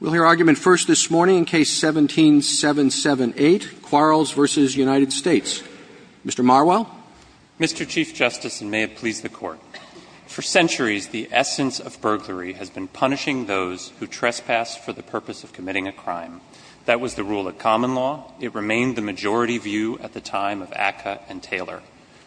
We'll hear argument first this morning in Case 17-778, Quarles v. United States. Mr. Marwell. Mr. Chief Justice, and may it please the Court, for centuries the essence of burglary has been punishing those who trespass for the purpose of committing a crime. That was the rule of common law. It remained the majority view at the time of Acca and Taylor.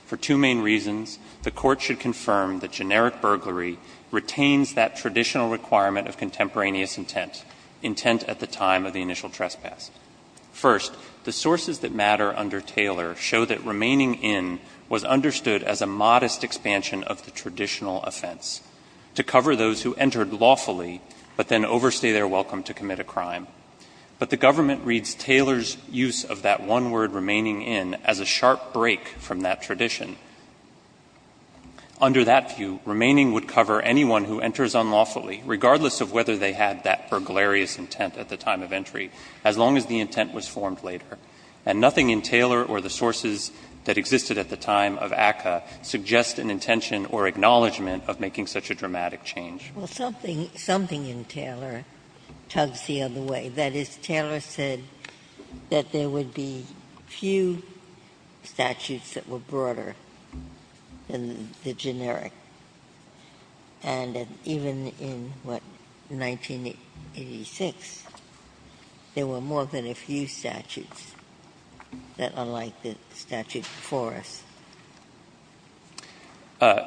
For two main reasons, the Court should confirm that generic burglary retains that traditional requirement of contemporaneous intent, intent at the time of the initial trespass. First, the sources that matter under Taylor show that remaining in was understood as a modest expansion of the traditional offense, to cover those who entered lawfully but then overstay their welcome to commit a crime. But the government reads Taylor's use of that one word, remaining in, as a sharp break from that tradition. Under that view, remaining would cover anyone who enters unlawfully, regardless of whether they had that burglary as intent at the time of entry, as long as the intent was formed later. And nothing in Taylor or the sources that existed at the time of Acca suggests an intention or acknowledgment of making such a dramatic change. Well, something in Taylor tugs the other way. Ginsburg, that is, Taylor said that there would be few statutes that were broader than the generic, and that even in, what, 1986, there were more than a few statutes that are like the statute before us.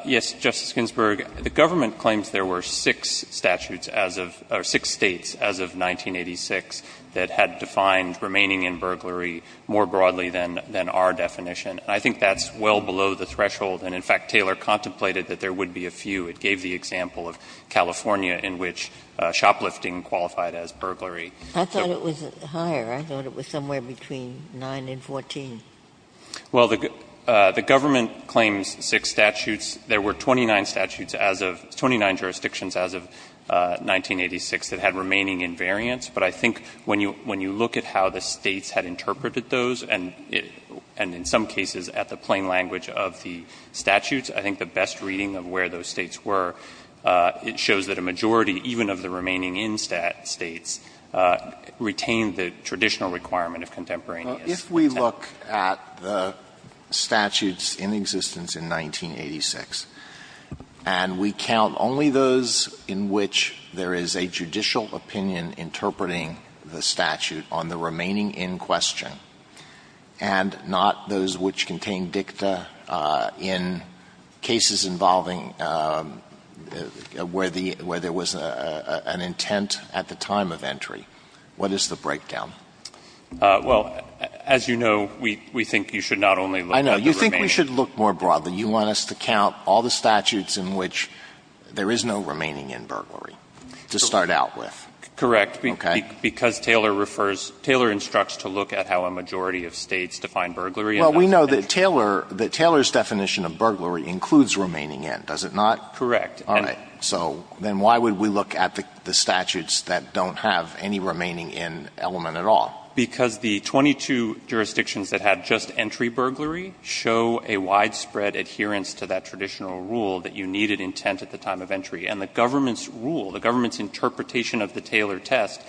Yes, Justice Ginsburg, the government claims there were six statutes as of or six States as of 1986 that had defined remaining in burglary more broadly than our definition. I think that's well below the threshold, and, in fact, Taylor contemplated that there would be a few. It gave the example of California, in which shoplifting qualified as burglary. I thought it was higher. I thought it was somewhere between 9 and 14. Well, the government claims six statutes. There were 29 statutes as of 29 jurisdictions as of 1986 that had remaining invariants, but I think when you look at how the States had interpreted those, and in some cases at the plain language of the statutes, I think the best reading of where those States were, it shows that a majority, even of the remaining in States, retained the traditional requirement of contemporaneous. Alito, if we look at the statutes in existence in 1986, and we count only those in which there is a judicial opinion interpreting the statute on the remaining in question, and not those which contain dicta in cases involving where the — where there was an intent at the time of entry, what is the breakdown? Well, as you know, we think you should not only look at the remaining in. I know. You think we should look more broadly. You want us to count all the statutes in which there is no remaining in burglary to start out with. Correct. Okay. Because Taylor refers — Taylor instructs to look at how a majority of States define burglary. Well, we know that Taylor — that Taylor's definition of burglary includes remaining in, does it not? Correct. All right. So then why would we look at the statutes that don't have any remaining in element at all? Because the 22 jurisdictions that had just entry burglary show a widespread adherence to that traditional rule that you needed intent at the time of entry. And the government's rule, the government's interpretation of the Taylor test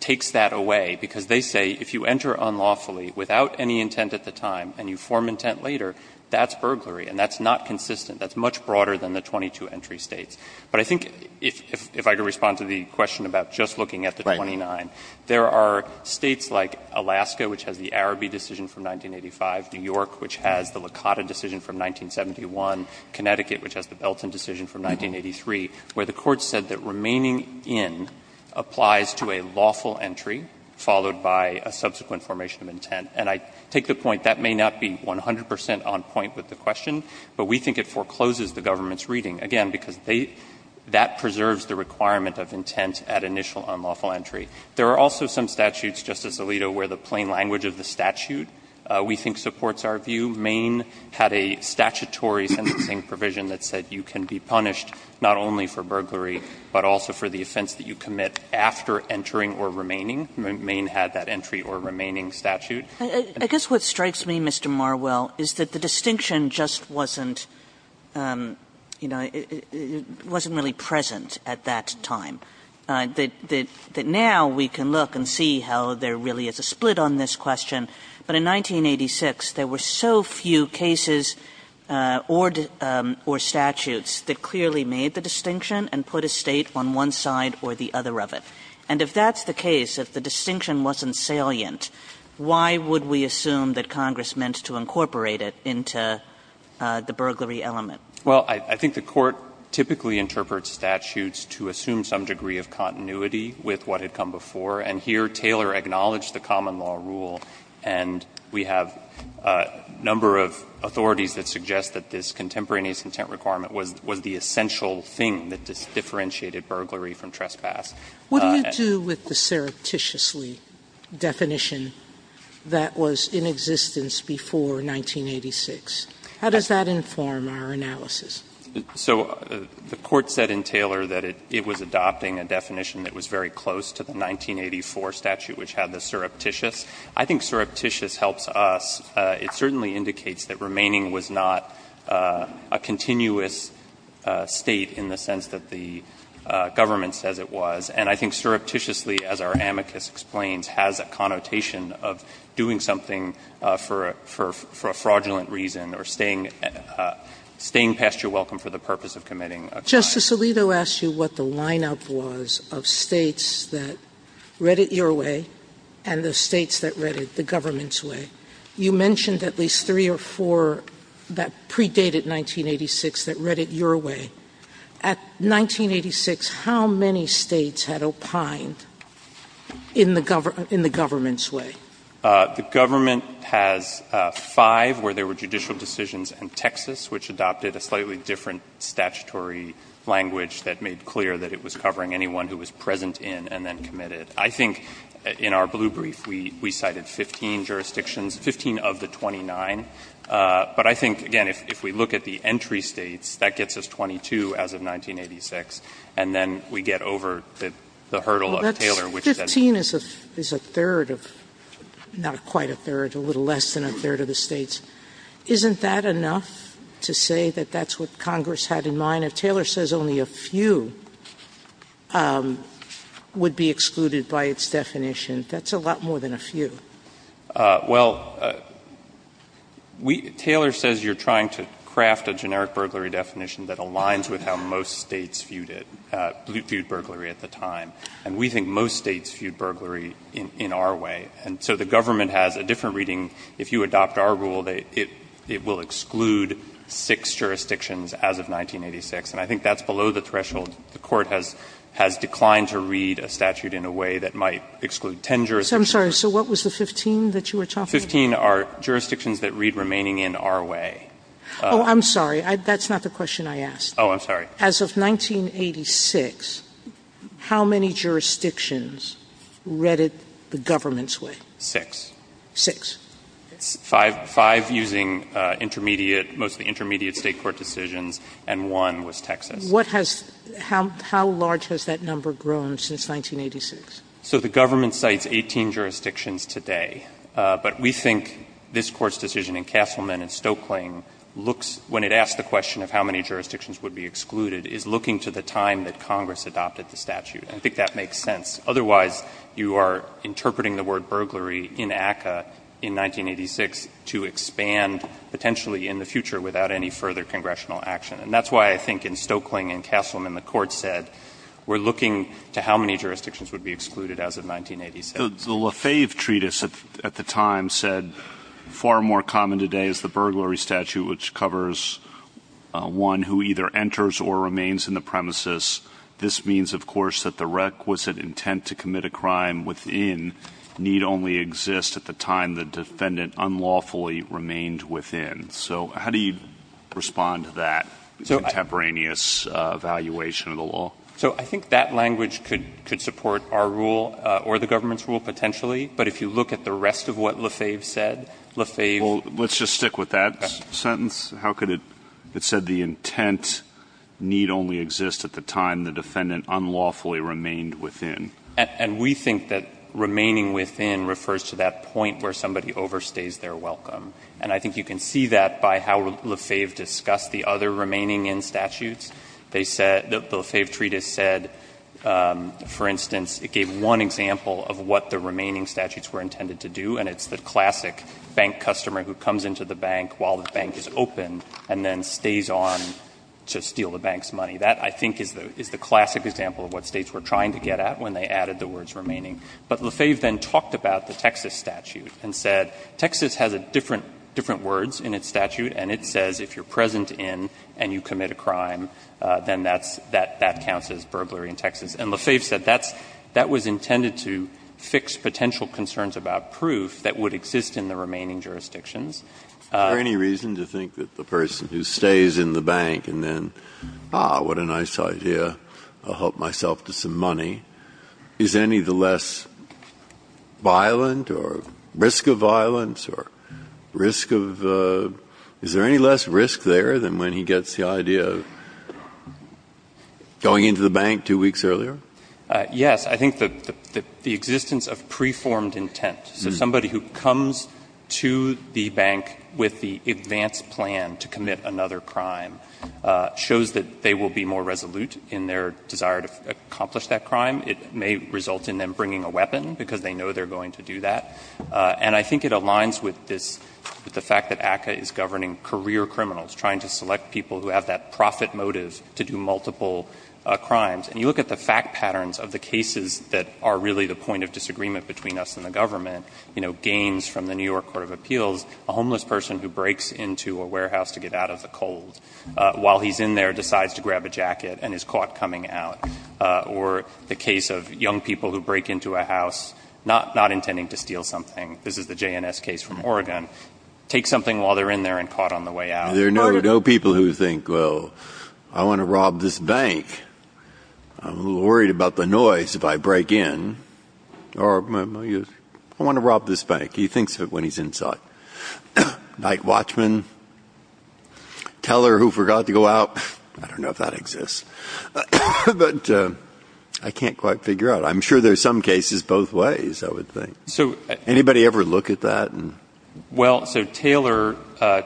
takes that away, because they say if you enter unlawfully without any intent at the time and you form intent later, that's burglary, and that's not consistent. That's much broader than the 22 entry States. But I think if I could respond to the question about just looking at the 29. There are States like Alaska, which has the Araby decision from 1985, New York, which has the Licata decision from 1971, Connecticut, which has the Belton decision from 1983, where the Court said that remaining in applies to a lawful entry followed by a subsequent formation of intent. And I take the point that may not be 100 percent on point with the question, but we think it forecloses the government's reading, again, because that preserves the requirement of intent at initial unlawful entry. There are also some statutes, Justice Alito, where the plain language of the statute we think supports our view. Maine had a statutory sentencing provision that said you can be punished not only for burglary, but also for the offense that you commit after entering or remaining. Maine had that entry or remaining statute. Kagan. Kagan. Kagan. Kagan. I guess what strikes me, Mr. Marwell, is that the distinction just wasn't, you know, it wasn't really present at that time, that now we can look and see how there really is a split on this question, but in 1986, there were so few cases or statutes that clearly made the distinction and put a State on one side or the other of it. And if that's the case, if the distinction wasn't salient, why would we assume that Congress meant to incorporate it into the burglary element? Well, I think the Court typically interprets statutes to assume some degree of continuity with what had come before, and here Taylor acknowledged the common law rule, and we have a number of authorities that suggest that this contemporaneous intent requirement was the essential thing that differentiated burglary from trespass. Sotomayor, what do you do with the surreptitiously definition that was in existence before 1986? How does that inform our analysis? So the Court said in Taylor that it was adopting a definition that was very close to the 1984 statute, which had the surreptitious. I think surreptitious helps us. It certainly indicates that remaining was not a continuous State in the sense that the government says it was, and I think surreptitiously, as our amicus explains, has a connotation of doing something for a fraudulent reason or staying past your welcome for the purpose of committing a crime. Justice Alito asked you what the line-up was of States that read it your way and the States that read it the government's way. You mentioned at least three or four that predated 1986 that read it your way. At 1986, how many States had opined in the government's way? The government has five where there were judicial decisions in Texas, which adopted a slightly different statutory language that made clear that it was covering anyone who was present in and then committed. I think in our blue brief, we cited 15 jurisdictions, 15 of the 29. But I think, again, if we look at the entry States, that gets us 22 as of 1986, and then we get over the hurdle of Taylor, which says 15 is a third of, not quite a third, a little less than a third of the States. Isn't that enough to say that that's what Congress had in mind? If Taylor says only a few would be excluded by its definition, that's a lot more than a few. Well, Taylor says you're trying to craft a generic burglary definition that aligns with how most States viewed it, viewed burglary at the time. And we think most States viewed burglary in our way. And so the government has a different reading. If you adopt our rule, it will exclude six jurisdictions as of 1986. And I think that's below the threshold. The Court has declined to read a statute in a way that might exclude ten jurisdictions. Sotomayor, I'm sorry. So what was the 15 that you were talking about? 15 are jurisdictions that read remaining in our way. Oh, I'm sorry. That's not the question I asked. Oh, I'm sorry. As of 1986, how many jurisdictions read it the government's way? Six. Six. Five using intermediate, mostly intermediate State court decisions, and one was Texas. What has — how large has that number grown since 1986? So the government cites 18 jurisdictions today. But we think this Court's decision in Castleman and Stokeling looks — when it asks the question of how many jurisdictions would be excluded, is looking to the time that Congress adopted the statute. And I think that makes sense. Otherwise, you are interpreting the word burglary in ACCA in 1986 to expand potentially in the future without any further congressional action. And that's why I think in Stokeling and Castleman, the Court said, we're looking to how many jurisdictions would be excluded as of 1986. The Lefebvre Treatise at the time said, far more common today is the burglary statute, which covers one who either enters or remains in the premises. This means, of course, that the requisite intent to commit a crime within need only exist at the time the defendant unlawfully remained within. So how do you respond to that contemporaneous evaluation of the law? So I think that language could support our rule or the government's rule potentially. But if you look at the rest of what Lefebvre said, Lefebvre — Well, let's just stick with that sentence. How could it — it said the intent need only exist at the time the defendant unlawfully remained within. And we think that remaining within refers to that point where somebody overstays their welcome. And I think you can see that by how Lefebvre discussed the other remaining in statutes. They said — the Lefebvre Treatise said, for instance, it gave one example of what the remaining statutes were intended to do, and it's the classic bank customer who comes into the bank while the bank is open and then stays on to steal the bank's money. That, I think, is the classic example of what States were trying to get at when they added the words remaining. But Lefebvre then talked about the Texas statute and said, Texas has a different — different words in its statute, and it says if you're present in and you commit a crime, then that's — that counts as burglary in Texas. And Lefebvre said that's — that was intended to fix potential concerns about proof that would exist in the remaining jurisdictions. Breyer. Is there any reason to think that the person who stays in the bank and then, ah, what a nice idea, I'll help myself to some money, is any of the less violent or — risk of violence or risk of — is there any less risk there than when he gets the idea that he's, ah, going into the bank two weeks earlier? Ah, yes. I think the — the existence of preformed intent, so somebody who comes to the bank with the advanced plan to commit another crime, ah, shows that they will be more resolute in their desire to accomplish that crime. It may result in them bringing a weapon because they know they're going to do that. And I think it aligns with this — with the fact that ACCA is governing career criminals, trying to select people who have that profit motive to do multiple, ah, crimes. And you look at the fact patterns of the cases that are really the point of disagreement between us and the government, you know, Gaines from the New York Court of Appeals, a homeless person who breaks into a warehouse to get out of the cold, ah, while he's in there decides to grab a jacket and is caught coming out. Ah, or the case of young people who break into a house not — not intending to steal something. This is the JNS case from Oregon. Take something while they're in there and caught on the way out. There are no — no people who think, well, I want to rob this bank. I'm a little worried about the noise if I break in. Or, I want to rob this bank. He thinks that when he's inside. Mike Watchman, Teller, who forgot to go out. I don't know if that exists. But, ah, I can't quite figure out. I'm sure there's some cases both ways, I would think. So, anybody ever look at that? Well, so Taylor, ah,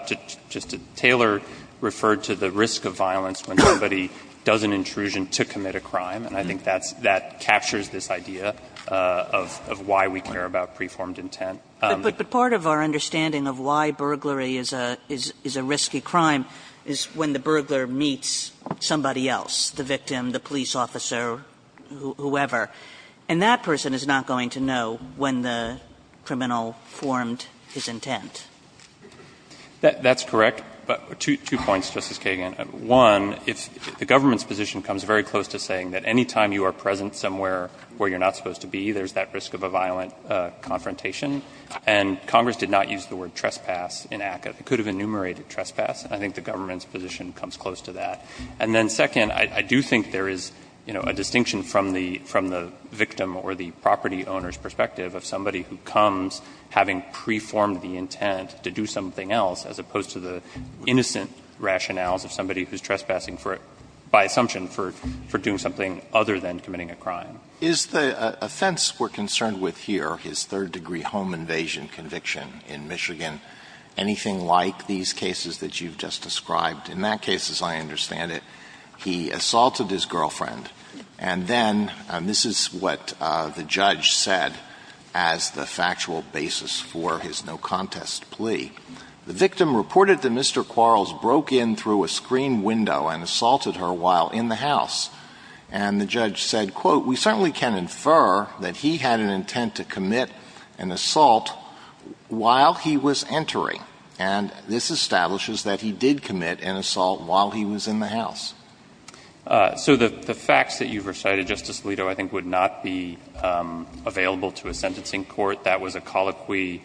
Taylor referred to the risk of violence when somebody does an intrusion to commit a crime. And I think that's — that captures this idea of — of why we care about preformed intent. But part of our understanding of why burglary is a — is a risky crime is when the burglar meets somebody else, the victim, the police officer, whoever, and that person is not going to know when the criminal formed his intent. That's correct. But two — two points, Justice Kagan. One, if the government's position comes very close to saying that any time you are present somewhere where you're not supposed to be, there's that risk of a violent confrontation. And Congress did not use the word trespass in ACCA. It could have enumerated trespass. I think the government's position comes close to that. And then second, I — I do think there is, you know, a distinction from the — from the property owner's perspective of somebody who comes having preformed the intent to do something else, as opposed to the innocent rationales of somebody who's trespassing for — by assumption for — for doing something other than committing a crime. Is the offense we're concerned with here, his third-degree home invasion conviction in Michigan, anything like these cases that you've just described? In that case, as I understand it, he assaulted his girlfriend, and then — and this is what the judge said as the factual basis for his no-contest plea. The victim reported that Mr. Quarles broke in through a screen window and assaulted her while in the house. And the judge said, quote, we certainly can infer that he had an intent to commit an assault while he was entering. And this establishes that he did commit an assault while he was in the house. So the facts that you've recited, Justice Alito, I think would not be available to a sentencing court. That was a colloquy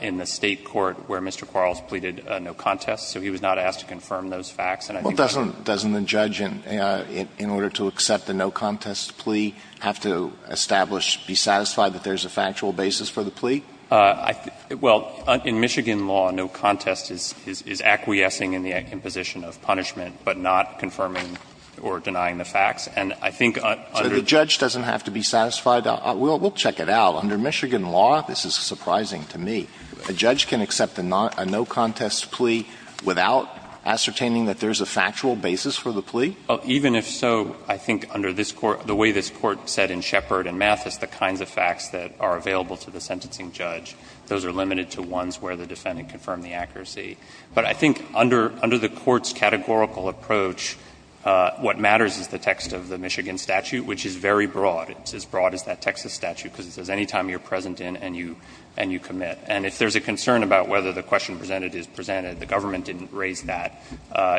in the State court where Mr. Quarles pleaded no-contest, so he was not asked to confirm those facts. And I think that's why — Well, doesn't — doesn't the judge, in order to accept the no-contest plea, have to establish — be satisfied that there's a factual basis for the plea? I — well, in Michigan law, no-contest is — is acquiescing in the imposition of punishment, but not confirming or denying the facts. And I think under — So the judge doesn't have to be satisfied? We'll — we'll check it out. Under Michigan law, this is surprising to me. A judge can accept a no-contest plea without ascertaining that there's a factual basis for the plea? Even if so, I think under this Court — the way this Court said in Shepard and Mathis the kinds of facts that are available to the sentencing judge, those are limited to ones where the defendant confirmed the accuracy. But I think under — under the Court's categorical approach, what matters is the text of the Michigan statute, which is very broad. It's as broad as that Texas statute, because it says any time you're present in and you — and you commit. And if there's a concern about whether the question presented is presented, the government didn't raise that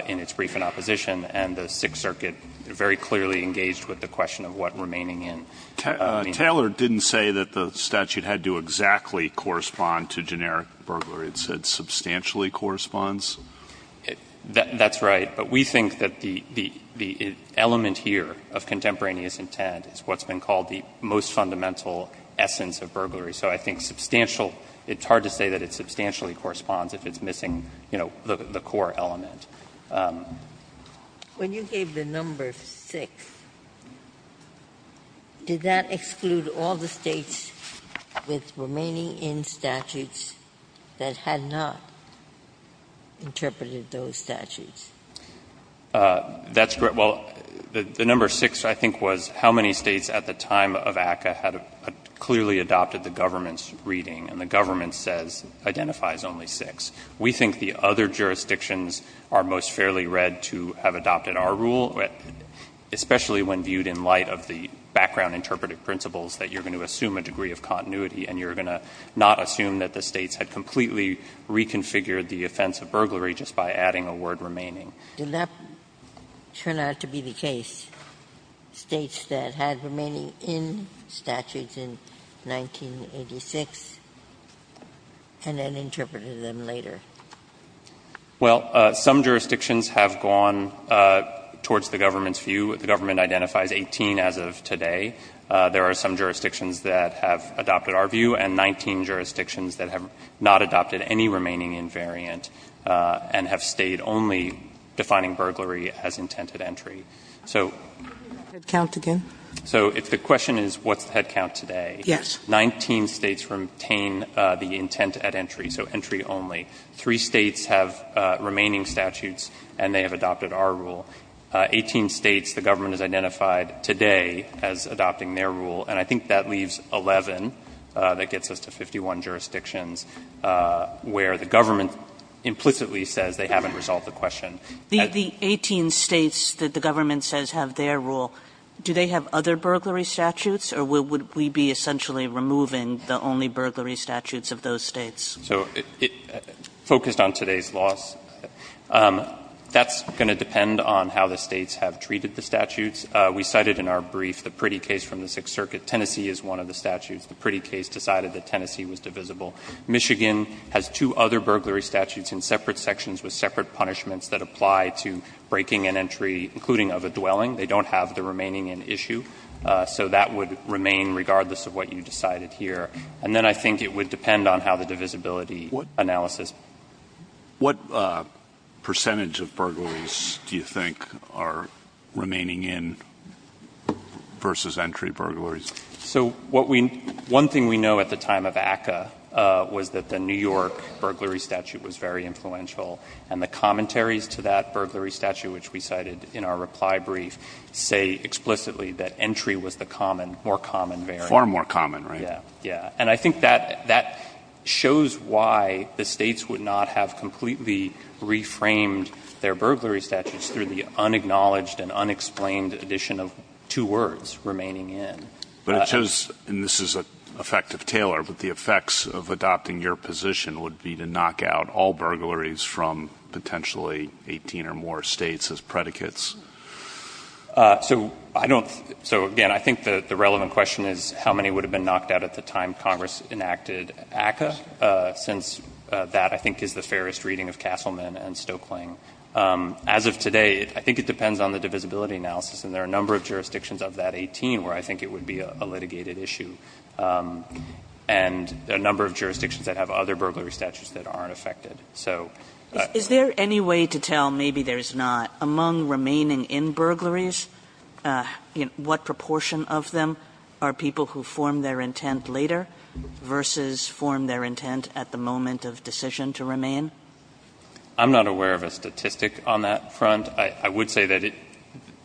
in its brief in opposition, and the Sixth Circuit very clearly engaged with the question of what remaining in. I mean — Taylor didn't say that the statute had to exactly correspond to generic burglary. It said substantially corresponds. That's right. But we think that the — the element here of contemporaneous intent is what's been called the most fundamental essence of burglary. So I think substantial — it's hard to say that it substantially corresponds if it's missing, you know, the core element. When you gave the number 6, did that exclude all the States with remaining in statutes that had not interpreted those statutes? That's correct. Well, the number 6, I think, was how many States at the time of ACCA had clearly adopted the government's reading, and the government says — identifies only 6. We think the other jurisdictions are most fairly read to have adopted our rule, especially when viewed in light of the background interpretive principles that you're going to assume a degree of continuity, and you're going to not assume that the States had completely reconfigured the offense of burglary just by adding a word remaining. Did that turn out to be the case, States that had remaining in statutes in 1986 and then interpreted them later? Well, some jurisdictions have gone towards the government's view. The government identifies 18 as of today. There are some jurisdictions that have adopted our view and 19 jurisdictions that have not adopted any remaining invariant and have stayed only defining burglary as intent at entry. So — Head count again? So if the question is what's the head count today — Yes. — 19 States retain the intent at entry, so entry only. Three States have remaining statutes, and they have adopted our rule. Eighteen States, the government has identified today as adopting their rule, and I think that leaves 11. That gets us to 51 jurisdictions where the government implicitly says they haven't resolved the question. The 18 States that the government says have their rule, do they have other burglary statutes, or would we be essentially removing the only burglary statutes of those States? So focused on today's laws. That's going to depend on how the States have treated the statutes. We cited in our brief the pretty case from the Sixth Circuit. Tennessee is one of the statutes. The pretty case decided that Tennessee was divisible. Michigan has two other burglary statutes in separate sections with separate punishments that apply to breaking and entry, including of a dwelling. They don't have the remaining in issue. So that would remain regardless of what you decided here. And then I think it would depend on how the divisibility analysis — What percentage of burglaries do you think are remaining in versus entry burglaries? So what we — one thing we know at the time of ACCA was that the New York burglary statute was very influential, and the commentaries to that burglary statute, which we cited in our reply brief, say explicitly that entry was the common — more common variant. Far more common, right? Yeah. Yeah. And I think that — that shows why the States would not have completely reframed their burglary statutes through the unacknowledged and unexplained addition of two words remaining in. But it shows — and this is an effect of Taylor, but the effects of adopting your position would be to knock out all burglaries from potentially 18 or more States as predicates. So I don't — so again, I think the relevant question is how many would have been knocked out at the time Congress enacted ACCA, since that, I think, is the fairest reading of Castleman and Stokeling. As of today, I think it depends on the divisibility analysis, and there are a number of jurisdictions of that 18 where I think it would be a litigated issue, and a number of jurisdictions that have other burglary statutes that aren't affected. So — Is there any way to tell, maybe there's not, among remaining in burglaries, what proportion of them are people who form their intent later versus form their intent at the moment of decision to remain? I'm not aware of a statistic on that front. I would say that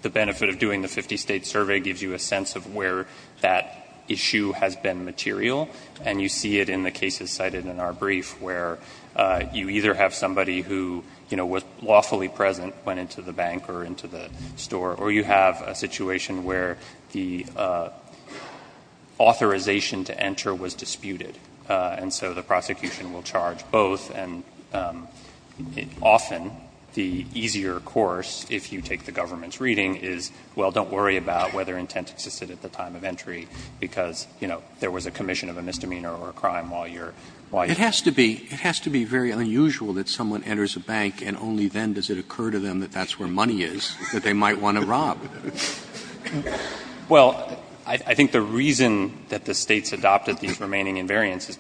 the benefit of doing the 50-State survey gives you a sense of where that issue has been material, and you see it in the cases cited in our brief, where you either have somebody who, you know, was lawfully present, went into the bank or went into the store, or you have a situation where the authorization to enter was disputed, and so the prosecution will charge both. And often, the easier course, if you take the government's reading, is, well, don't worry about whether intent existed at the time of entry, because, you know, there was a commission of a misdemeanor or a crime while you're — It has to be — it has to be very unusual that someone enters a bank, and only then does it occur to them that that's where money is that they might want to rob. Well, I think the reason that the States adopted these remaining invariances is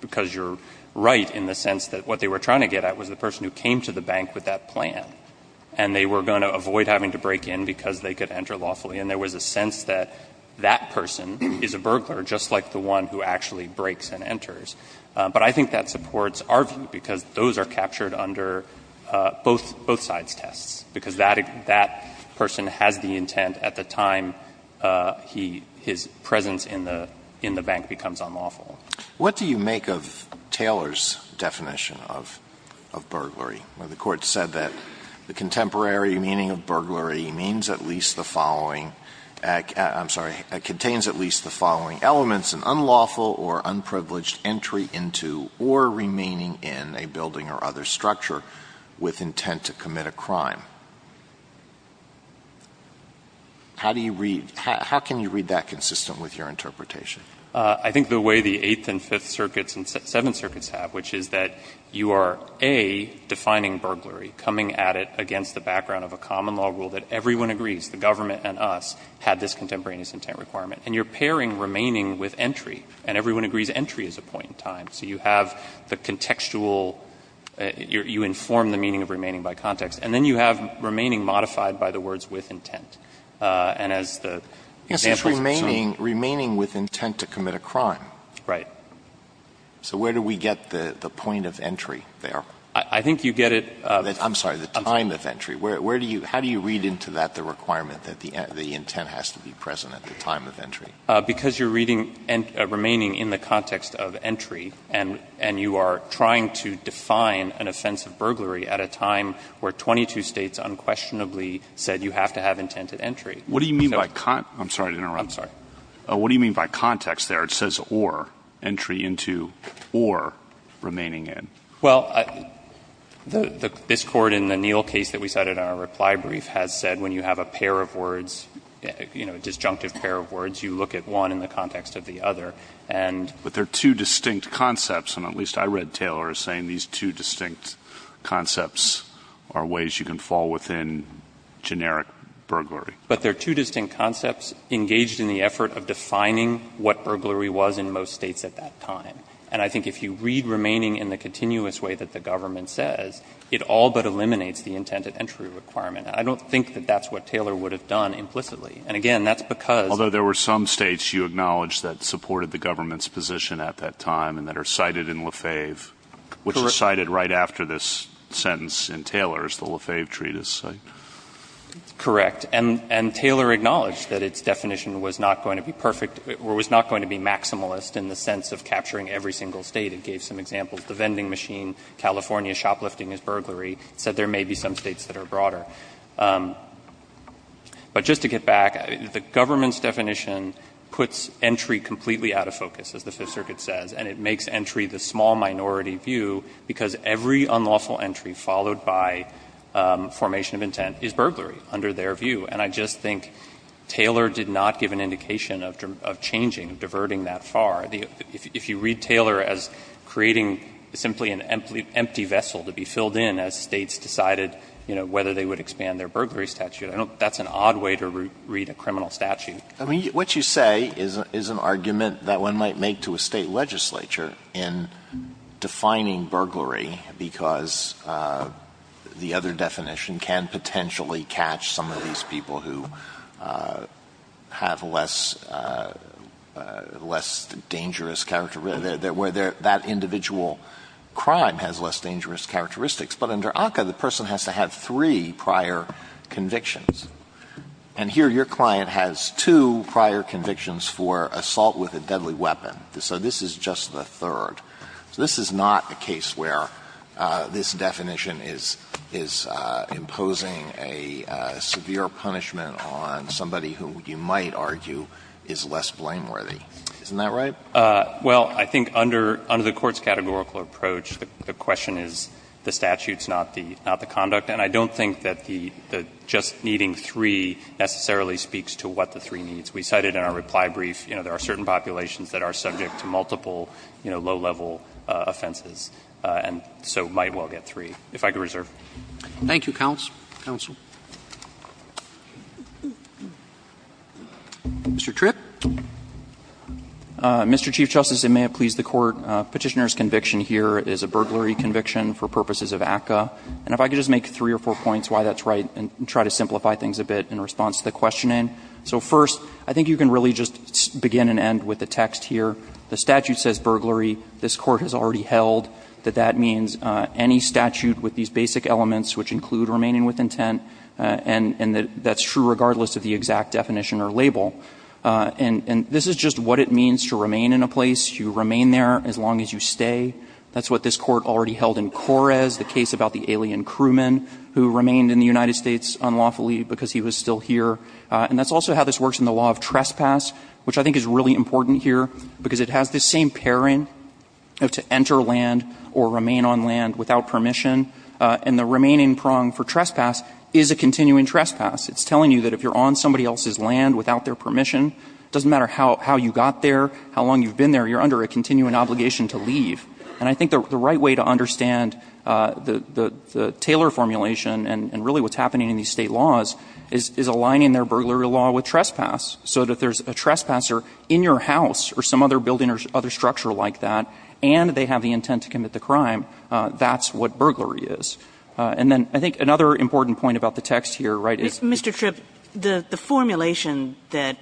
because you're right in the sense that what they were trying to get at was the person who came to the bank with that plan, and they were going to avoid having to break in because they could enter lawfully, and there was a sense that that person is a burglar, just like the one who actually breaks and enters. But I think that supports our view, because those are captured under both sides' tests, because that person has the intent at the time he — his presence in the bank becomes unlawful. What do you make of Taylor's definition of burglary, where the Court said that the contemporary meaning of burglary means at least the following — I'm sorry, contains at least the following elements, an unlawful or unprivileged entry into or remaining in a building or other structure with intent to commit a crime? How do you read — how can you read that consistent with your interpretation? I think the way the Eighth and Fifth Circuits and Seventh Circuits have, which is that you are, A, defining burglary, coming at it against the background of a common-law rule that everyone agrees, the government and us, had this contemporaneous intent requirement, and you're pairing remaining with entry, and everyone agrees entry is a point in time, so you have the contextual — you inform the meaning of remaining by context. And then you have remaining modified by the words with intent, and as the example is, I'm sorry. Yes, it's remaining — remaining with intent to commit a crime. Right. So where do we get the point of entry there? I think you get it — I'm sorry, the time of entry. Where do you — how do you read into that the requirement that the intent has to be present at the time of entry? Because you're reading remaining in the context of entry, and you are trying to define an offense of burglary at a time where 22 States unquestionably said you have to have intent at entry. What do you mean by — I'm sorry to interrupt. I'm sorry. What do you mean by context there? It says or, entry into or remaining in. Well, this Court in the Neal case that we cited in our reply brief has said when you have a pair of words, you know, a disjunctive pair of words, you look at one in the context of the other. And — But they're two distinct concepts, and at least I read Taylor as saying these two distinct concepts are ways you can fall within generic burglary. But they're two distinct concepts engaged in the effort of defining what burglary was in most States at that time. And I think if you read remaining in the continuous way that the government says, it all but eliminates the intent at entry requirement. I don't think that that's what Taylor would have done implicitly. And again, that's because — Although there were some States you acknowledge that supported the government's position at that time and that are cited in Lefebvre, which is cited right after this sentence in Taylor's, the Lefebvre Treatise. Correct. And Taylor acknowledged that its definition was not going to be perfect or was not going to be maximalist in the sense of capturing every single State. It gave some examples. The vending machine, California shoplifting is burglary, said there may be some States that are broader. But just to get back, the government's definition puts entry completely out of focus, as the Fifth Circuit says. And it makes entry the small minority view because every unlawful entry followed by formation of intent is burglary under their view. And I just think Taylor did not give an indication of changing, diverting that far. If you read Taylor as creating simply an empty vessel to be filled in as States decided, you know, whether they would expand their burglary statute, I don't — that's an odd way to read a criminal statute. I mean, what you say is an argument that one might make to a State legislature in defining burglary because the other definition can potentially catch some of these people who have less — less dangerous — where that individual crime has less dangerous characteristics. But under ACCA, the person has to have three prior convictions. And here your client has two prior convictions for assault with a deadly weapon. So this is just the third. So this is not a case where this definition is — is imposing a severe punishment on somebody who you might argue is less blameworthy. Isn't that right? Well, I think under — under the Court's categorical approach, the question is the statute, not the — not the conduct. And I don't think that the — the just needing three necessarily speaks to what the three needs. We cited in our reply brief, you know, there are certain populations that are subject to multiple, you know, low-level offenses. And so it might well get three, if I could reserve. Thank you, counsel. Counsel. Mr. Tripp. Mr. Chief Justice, and may it please the Court, petitioner's conviction here is a burglary conviction for purposes of ACCA. And if I could just make three or four points why that's right and try to simplify things a bit in response to the questioning. So first, I think you can really just begin and end with the text here. The statute says burglary. This Court has already held that that means any statute with these basic elements which include remaining with intent, and that's true regardless of the exact definition or label. And this is just what it means to remain in a place. You remain there as long as you stay. That's what this Court already held in Correz, the case about the alien crewman who remained in the United States unlawfully because he was still here. And that's also how this works in the law of trespass, which I think is really important here because it has this same pairing of to enter land or remain on land without permission. And the remaining prong for trespass is a continuing trespass. It's telling you that if you're on somebody else's land without their permission, it doesn't matter how you got there, how long you've been there, you're under a continuing obligation to leave. And I think the right way to understand the Taylor formulation and really what's happening in these State laws is aligning their burglary law with trespass. So that if there's a trespasser in your house or some other building or other structure like that, and they have the intent to commit the crime, that's what burglary is. And then I think another important point about the text here, right, is that Mr. Tripp, the formulation that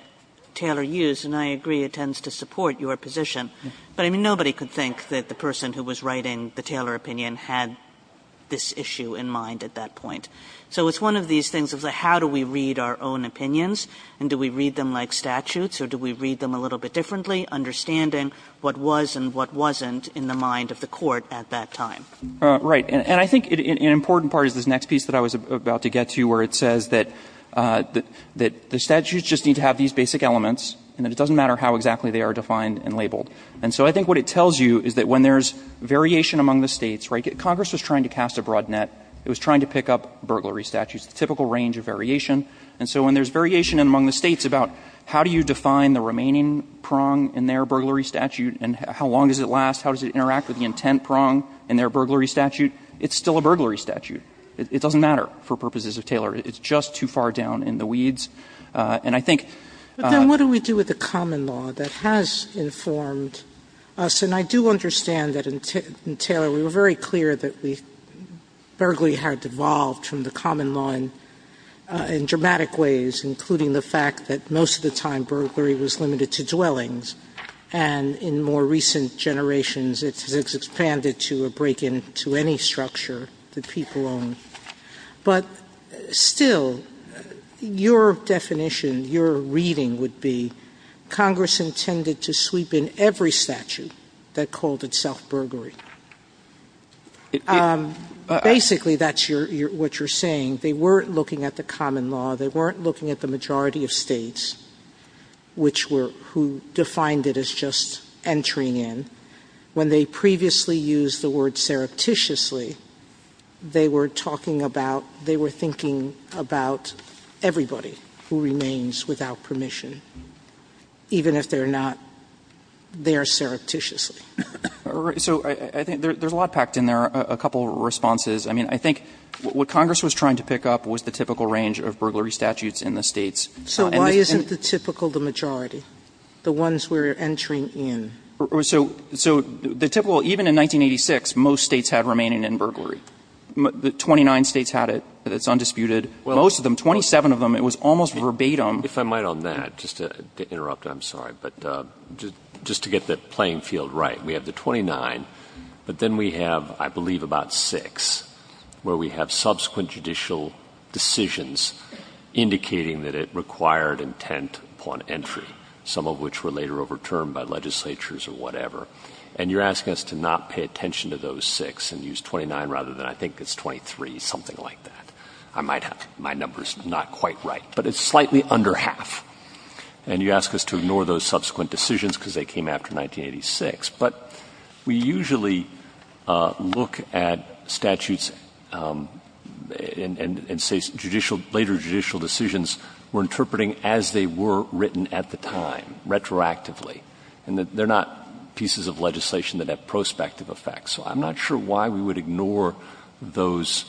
Taylor used, and I agree it tends to support your position, but I mean, nobody could think that the person who was writing the Taylor opinion had this issue in mind at that point. So it's one of these things of the how do we read our own opinions, and do we read them like statutes, or do we read them a little bit differently, understanding what was and what wasn't in the mind of the court at that time? Right. And I think an important part is this next piece that I was about to get to where it says that the statutes just need to have these basic elements and that it doesn't matter how exactly they are defined and labeled. And so I think what it tells you is that when there's variation among the States, right, Congress was trying to cast a broad net. It was trying to pick up burglary statutes, the typical range of variation. And so when there's variation among the States about how do you define the remaining prong in their burglary statute and how long does it last, how does it interact with the intent prong in their burglary statute, it's still a burglary statute. It doesn't matter for purposes of Taylor. It's just too far down in the weeds. And I think — But then what do we do with a common law that has informed us? And I do understand that, in Taylor, we were very clear that burglary had evolved from the common law in dramatic ways, including the fact that most of the time burglary was limited to dwellings, and in more recent generations it's expanded to a break-in to any structure that people own. But still, your definition, your reading would be Congress intended to sweep in every statute that called itself burglary. Basically, that's what you're saying. They weren't looking at the common law. They weren't looking at the majority of states, which were — who defined it as just And so, even if they were not there surreptitiously, they were talking about, they were thinking about everybody who remains without permission, even if they're not there surreptitiously. So I think there's a lot packed in there, a couple of responses. I mean, I think what Congress was trying to pick up was the typical range of burglary statutes in the states. So why isn't the typical the majority, the ones we're entering in? So the typical — even in 1986, most states had remaining in. Burglary. Twenty-nine states had it. It's undisputed. Most of them, 27 of them, it was almost verbatim. If I might on that, just to interrupt, I'm sorry, but just to get the playing field right. We have the 29, but then we have, I believe, about six where we have subsequent judicial decisions indicating that it required intent upon entry, some of which were later overturned by legislatures or whatever. And you're asking us to not pay attention to those six and use 29 rather than, I think it's 23, something like that. I might have — my number's not quite right, but it's slightly under half. And you ask us to ignore those subsequent decisions because they came after 1986. But we usually look at statutes and say judicial — later judicial decisions were interpreting as they were written at the time, retroactively. And they're not pieces of legislation that have prospective effects. So I'm not sure why we would ignore those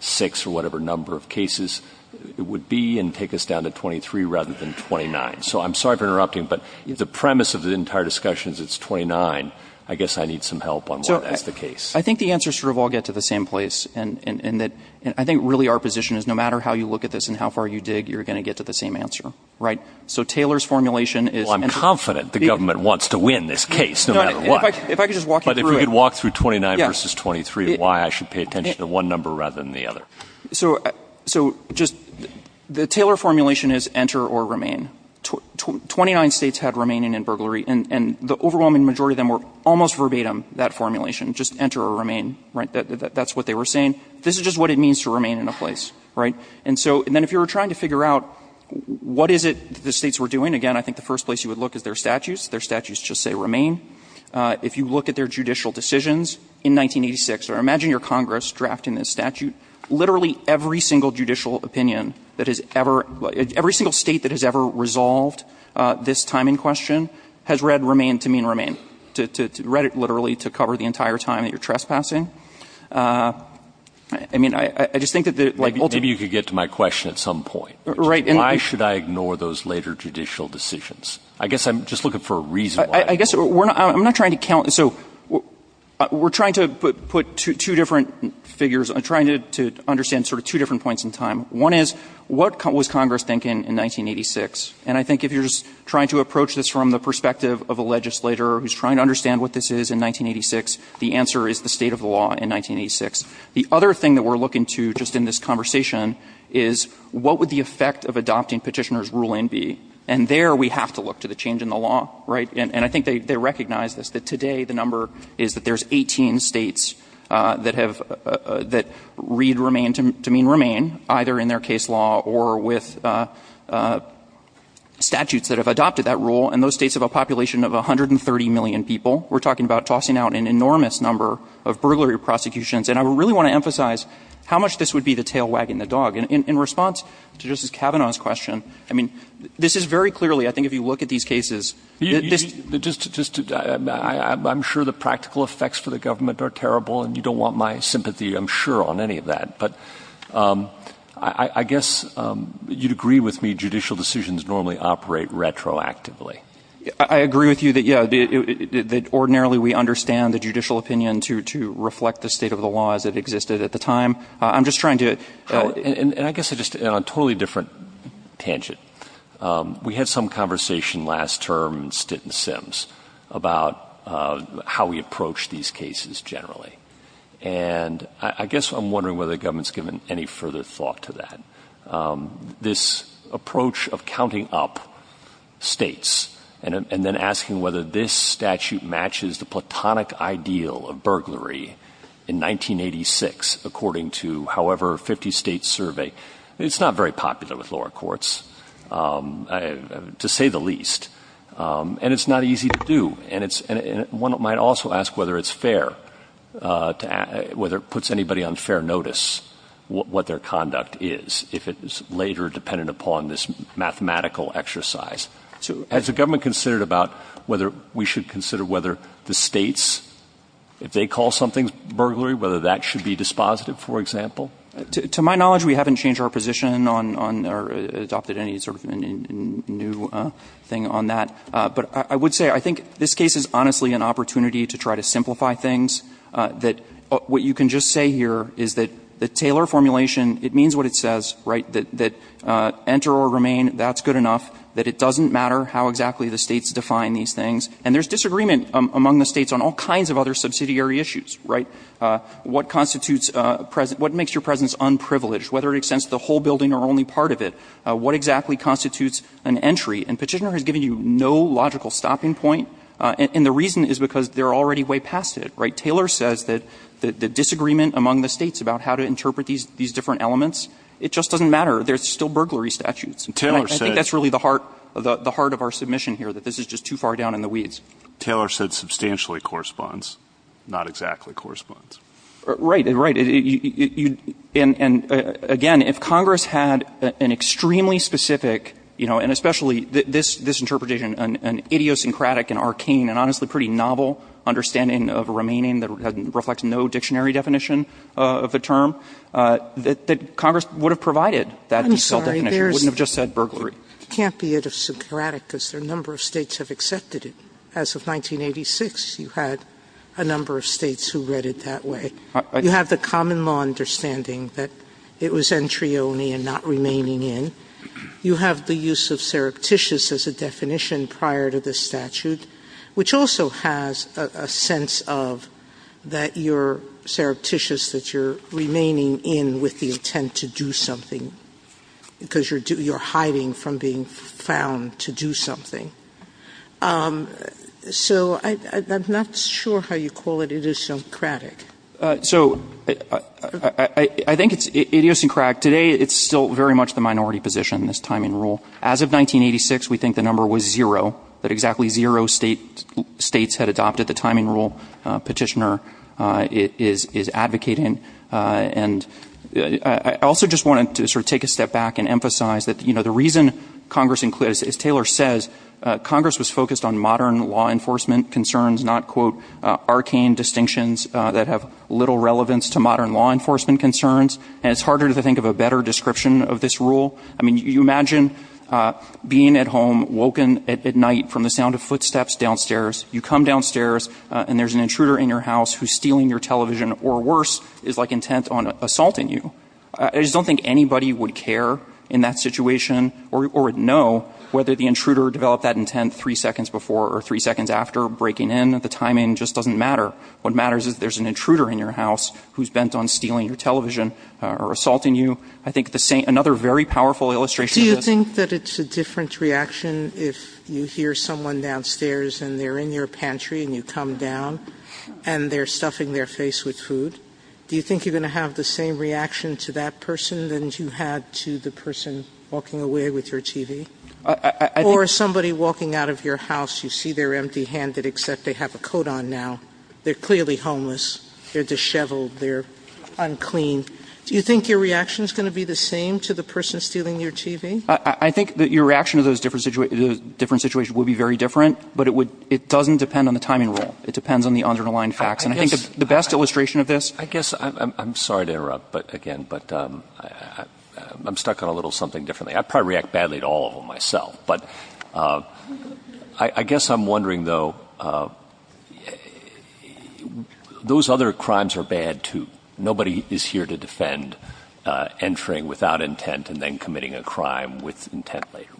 six or whatever number of cases. It would be and take us down to 23 rather than 29. So I'm sorry for interrupting, but the premise of the entire discussion is it's 29. I guess I need some help on why that's the case. I think the answers sort of all get to the same place. And I think really our position is no matter how you look at this and how far you dig, you're going to get to the same answer. Right? So Taylor's formulation is — Well, I'm confident the government wants to win this case, no matter what. If I could just walk you through it — But if we could walk through 29 versus 23, why I should pay attention to one number rather than the other. So just — the Taylor formulation is enter or remain. Twenty-nine states had remain in burglary. And the overwhelming majority of them were almost verbatim that formulation, just enter or remain. Right? That's what they were saying. This is just what it means to remain in a place. Right? And so — and then if you were trying to figure out what is it that the states were doing, again, I think the first place you would look is their statutes. Their statutes just say remain. If you look at their judicial decisions in 1986, or imagine your Congress drafting this statute, literally every single judicial opinion that has ever — every single state that has ever resolved this timing question has read remain to mean remain. Read it literally to cover the entire time that you're trespassing. I mean, I just think that — Maybe you could get to my question at some point. Right. Why should I ignore those later judicial decisions? I guess I'm just looking for a reason why. I guess we're not — I'm not trying to count — so we're trying to put two different figures — trying to understand sort of two different points in time. One is what was Congress thinking in 1986? And I think if you're trying to approach this from the perspective of a legislator who's trying to understand what this is in 1986, the answer is the state of the law in 1986. The other thing that we're looking to just in this conversation is what would the effect of adopting Petitioner's ruling be? And there we have to look to the change in the law. Right? And I think they recognize this, that today the number is that there's 18 states that have — that read remain to mean remain, either in their case law or with statutes that have adopted that rule. And those states have a population of 130 million people. We're talking about tossing out an enormous number of burglary prosecutions. And I really want to emphasize how much this would be the tail wagging the dog. In response to Justice Kavanaugh's question, I mean, this is very clearly — I think if you look at these cases, this — Just — I'm sure the practical effects for the government are terrible and you don't want my sympathy, I'm sure, on any of that. But I guess you'd agree with me judicial decisions normally operate retroactively. I agree with you that, yeah, that ordinarily we understand the judicial opinion to reflect the state of the law as it existed at the time. I'm just trying to — And I guess I just — on a totally different tangent, we had some conversation last term in Stitt and Sims about how we approach these cases generally. And I guess I'm wondering whether the government's given any further thought to that. This approach of counting up states and then asking whether this statute matches the platonic ideal of burglary in 1986, according to however 50-state survey, it's not very popular with lower courts, to say the least. And it's not easy to do. And it's — one might also ask whether it's fair to — whether it puts anybody on fair notice what their conduct is if it is later dependent upon this mathematical exercise. So has the government considered about whether we should consider whether the states, if they call something burglary, whether that should be dispositive, for example? To my knowledge, we haven't changed our position on or adopted any sort of new thing on that. But I would say I think this case is honestly an opportunity to try to simplify things. That what you can just say here is that the Taylor formulation, it means what it says, right? That enter or remain, that's good enough. That it doesn't matter how exactly the states define these things. And there's disagreement among the states on all kinds of other subsidiary issues, right? What constitutes — what makes your presence unprivileged, whether it extends to the whole building or only part of it? What exactly constitutes an entry? And Petitioner has given you no logical stopping point. And the reason is because they're already way past it, right? Taylor says that the disagreement among the states about how to interpret these different elements, it just doesn't matter. There's still burglary statutes. I think that's really the heart of our submission here, that this is just too far down in the weeds. Taylor said substantially corresponds. Not exactly corresponds. Right. Right. And, again, if Congress had an extremely specific, you know, and especially this interpretation, an idiosyncratic and arcane and honestly pretty novel understanding of remaining that reflects no dictionary definition of the term, that Congress would have provided that definition, wouldn't have just said burglary. I'm sorry. It can't be idiosyncratic because a number of states have accepted it. As of 1986, you had a number of states who read it that way. You have the common law understanding that it was entry only and not remaining in. You have the use of surreptitious as a definition prior to the statute, which also has a sense of that you're surreptitious, that you're remaining in with the definition that you found to do something. So I'm not sure how you call it idiosyncratic. So I think it's idiosyncratic. Today it's still very much the minority position, this timing rule. As of 1986, we think the number was zero, that exactly zero states had adopted the timing rule. Petitioner is advocating. And I also just wanted to sort of take a step back and emphasize that, you know, the reason Congress, as Taylor says, Congress was focused on modern law enforcement concerns, not quote arcane distinctions that have little relevance to modern law enforcement concerns. And it's harder to think of a better description of this rule. I mean, you imagine being at home, woken at night from the sound of footsteps downstairs. You come downstairs and there's an intruder in your house who's stealing your television or worse is like intent on assaulting you. I just don't think anybody would care in that situation or would know whether the intruder developed that intent three seconds before or three seconds after breaking in. The timing just doesn't matter. What matters is there's an intruder in your house who's bent on stealing your television or assaulting you. I think another very powerful illustration of this. Do you think that it's a different reaction if you hear someone downstairs and they're in your pantry and you come down and they're stuffing their face with food? Do you think you're going to have the same reaction to that person than you had to the person walking away with your TV? Or somebody walking out of your house, you see they're empty-handed except they have a coat on now. They're clearly homeless. They're disheveled. They're unclean. Do you think your reaction is going to be the same to the person stealing your TV? I think that your reaction to those different situations would be very different, but it doesn't depend on the timing rule. It depends on the underlying facts. And I think the best illustration of this. I guess I'm sorry to interrupt again, but I'm stuck on a little something differently. I probably react badly to all of them myself. But I guess I'm wondering, though, those other crimes are bad, too. Nobody is here to defend entering without intent and then committing a crime with intent later.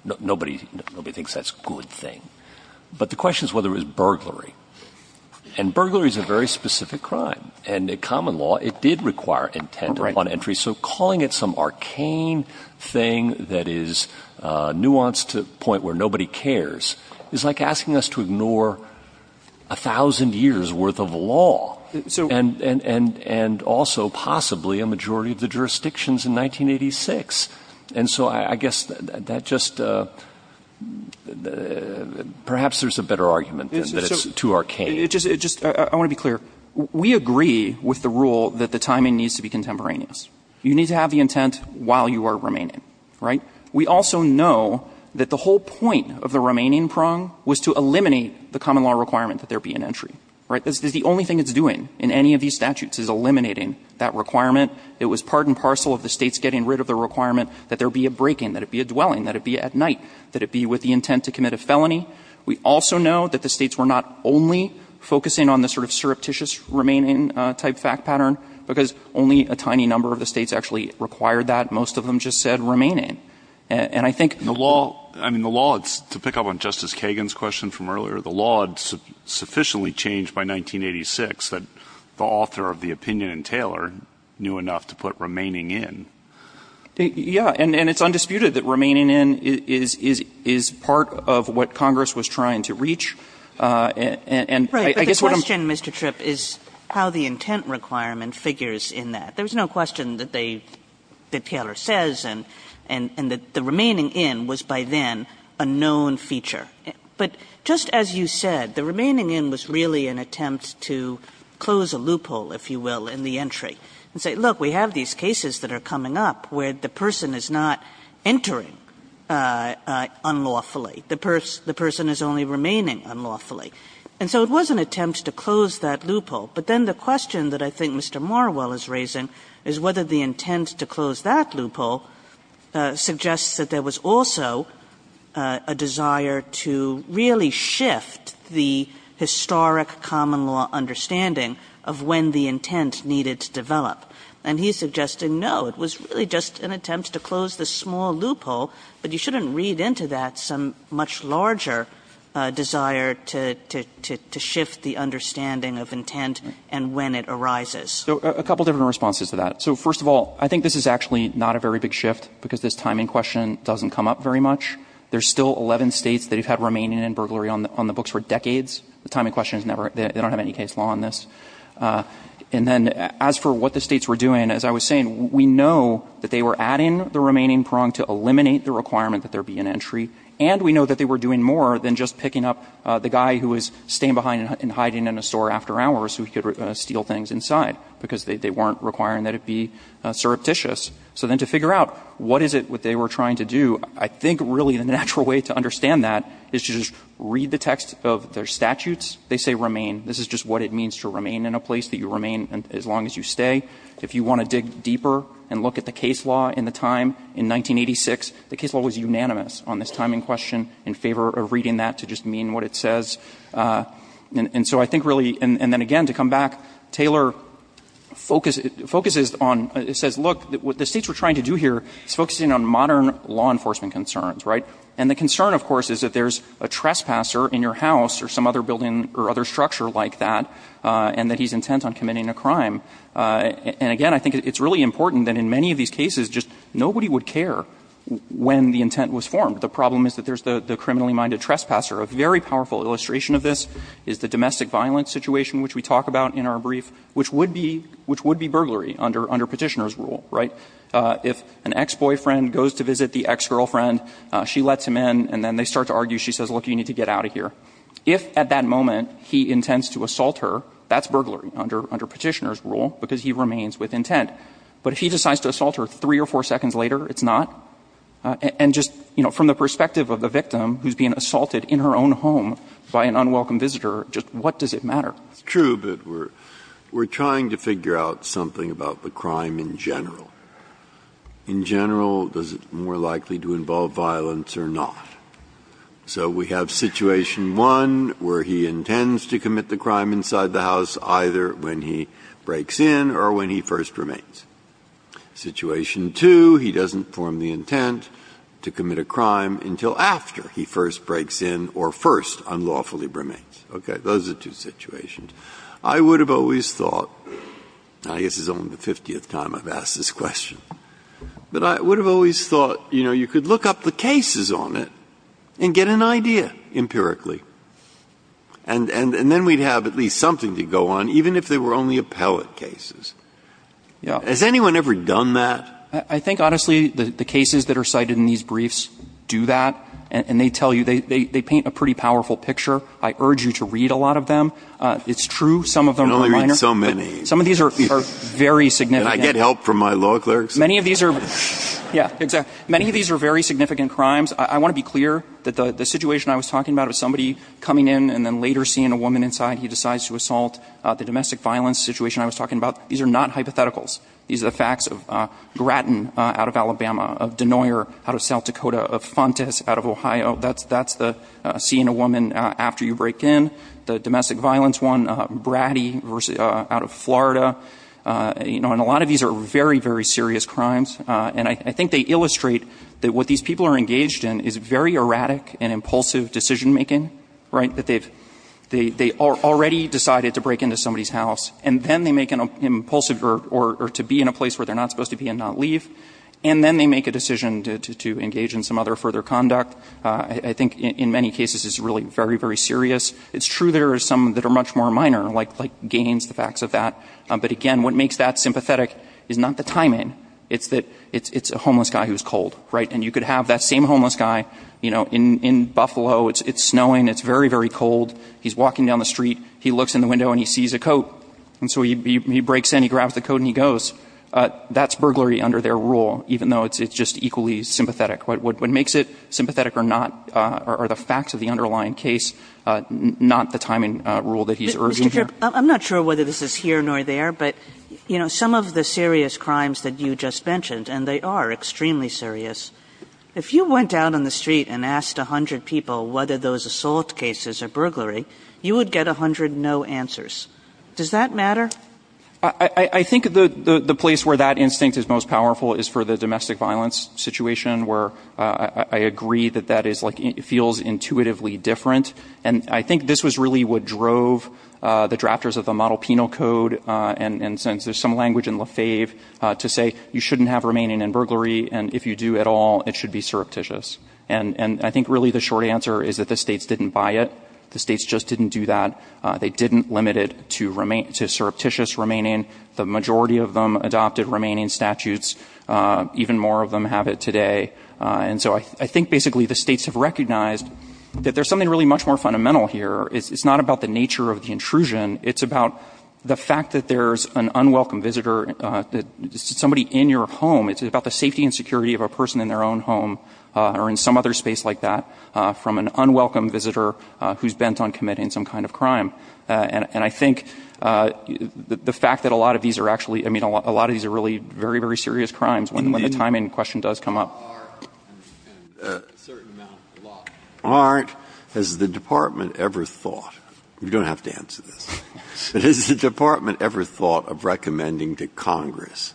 But the question is whether it was burglary. And burglary is a very specific crime. And in common law, it did require intent upon entry. So calling it some arcane thing that is nuanced to the point where nobody cares is like asking us to ignore 1,000 years' worth of law and also possibly a majority of the jurisdictions in 1986. And so I guess that just perhaps there's a better argument than that it's too arcane. I want to be clear. We agree with the rule that the timing needs to be contemporaneous. You need to have the intent while you are remaining. Right? We also know that the whole point of the remaining prong was to eliminate the common law requirement that there be an entry. Right? The only thing it's doing in any of these statutes is eliminating that requirement. It was part and parcel of the states getting rid of the requirement that there be a break-in, that it be a dwelling, that it be at night, that it be with the intent to commit a felony. We also know that the states were not only focusing on the sort of surreptitious remaining type fact pattern because only a tiny number of the states actually required that. Most of them just said remaining. And I think the law to pick up on Justice Kagan's question from earlier, the law would sufficiently change by 1986 that the author of the opinion in Taylor knew enough to put remaining in. Yeah. And it's undisputed that remaining in is part of what Congress was trying to reach. Right. But the question, Mr. Tripp, is how the intent requirement figures in that. There was no question that Taylor says and that the remaining in was by then a known feature. But just as you said, the remaining in was really an attempt to close a loophole, if you will, in the entry and say, look, we have these cases that are coming up where the person is not entering unlawfully. The person is only remaining unlawfully. And so it was an attempt to close that loophole. But then the question that I think Mr. Marwell is raising is whether the intent to close that loophole suggests that there was also a desire to really shift the historic common law understanding of when the intent needed to develop. And he's suggesting, no, it was really just an attempt to close the small loophole, but you shouldn't read into that some much larger desire to shift the understanding of intent and when it arises. So a couple different responses to that. So first of all, I think this is actually not a very big shift because this timing question doesn't come up very much. There's still 11 states that have had remaining in burglary on the books for decades. The timing question is never, they don't have any case law on this. And then as for what the states were doing, as I was saying, we know that they were adding the remaining prong to eliminate the requirement that there be an entry. And we know that they were doing more than just picking up the guy who was staying behind and hiding in a store after hours so he could steal things inside because they weren't requiring that it be surreptitious. So then to figure out what is it that they were trying to do, I think really the natural way to understand that is to just read the text of their statutes. They say remain. This is just what it means to remain in a place, that you remain as long as you stay. If you want to dig deeper and look at the case law in the time in 1986, the case law was unanimous on this timing question in favor of reading that to just mean what it says. And so I think really, and then again to come back, Taylor focuses on, it says look, what the states were trying to do here is focusing on modern law enforcement concerns, right? And the concern, of course, is that there's a trespasser in your house or some other building or other structure like that and that he's intent on committing a crime. And again, I think it's really important that in many of these cases just nobody would care when the intent was formed. The problem is that there's the criminally minded trespasser, a very powerful illustration of this is the domestic violence situation which we talk about in our brief, which would be burglary under Petitioner's rule, right? If an ex-boyfriend goes to visit the ex-girlfriend, she lets him in and then they start to argue. She says, look, you need to get out of here. If at that moment he intends to assault her, that's burglary under Petitioner's rule because he remains with intent. But if he decides to assault her three or four seconds later, it's not. And just from the perspective of the victim who's being assaulted in her own home, by an unwelcome visitor, just what does it matter? Breyer. It's true, but we're trying to figure out something about the crime in general. In general, does it more likely to involve violence or not? So we have situation one where he intends to commit the crime inside the house either when he breaks in or when he first remains. Situation two, he doesn't form the intent to commit a crime until after he first breaks in or first unlawfully remains. Okay. Those are two situations. I would have always thought, I guess this is only the 50th time I've asked this question, but I would have always thought, you know, you could look up the cases on it and get an idea empirically. And then we'd have at least something to go on, even if they were only appellate cases. Has anyone ever done that? I think, honestly, the cases that are cited in these briefs do that. And they tell you, they paint a pretty powerful picture. I urge you to read a lot of them. It's true, some of them are minor. I only read so many. Some of these are very significant. And I get help from my law clerks. Many of these are very significant crimes. I want to be clear that the situation I was talking about of somebody coming in and then later seeing a woman inside, he decides to assault, the domestic violence situation I was talking about, these are not hypotheticals. These are the facts of Grattan out of Alabama, of Denoyer out of South Dakota, of Fontas out of Ohio. That's the seeing a woman after you break in. The domestic violence one, Bratty out of Florida. You know, and a lot of these are very, very serious crimes. And I think they illustrate that what these people are engaged in is very erratic and impulsive decision-making, right? That they've, they already decided to break into somebody's house. And then they make an impulsive, or to be in a place where they're not supposed to be and not leave. And then they make a decision to engage in some other further conduct. I think in many cases it's really very, very serious. It's true there are some that are much more minor, like Gaines, the facts of that. But again, what makes that sympathetic is not the timing. It's that it's a homeless guy who's cold, right? And you could have that same homeless guy, you know, in Buffalo. It's snowing. It's very, very cold. He's walking down the street. He looks in the window and he sees a coat. And so he breaks in. He grabs the coat and he goes. That's burglary under their rule, even though it's just equally sympathetic. What makes it sympathetic are not, are the facts of the underlying case, not the timing rule that he's urging here. Kagan. I'm not sure whether this is here nor there, but, you know, some of the serious crimes that you just mentioned, and they are extremely serious. If you went out on the street and asked 100 people whether those assault cases are burglary, you would get 100 no answers. Does that matter? I think the place where that instinct is most powerful is for the domestic violence situation where I agree that that is like, it feels intuitively different. And I think this was really what drove the drafters of the model penal code and since there's some language in Lefebvre to say you shouldn't have remaining in burglary. And if you do at all, it should be surreptitious. And I think really the short answer is that the states didn't buy it. The states just didn't do that. They didn't limit it to surreptitious remaining. The majority of them adopted remaining statutes. Even more of them have it today. And so I think basically the states have recognized that there's something really much more fundamental here. It's not about the nature of the intrusion. It's about the fact that there's an unwelcome visitor, somebody in your home. It's about the safety and security of a person in their own home or in some other space like that from an unwelcome visitor who's bent on committing some kind of crime. And I think the fact that a lot of these are actually, I mean, a lot of these are really very, very serious crimes when the timing question does come up. Are, and a certain amount, a lot. Aren't, has the department ever thought, you don't have to answer this, but has the department ever thought of recommending to Congress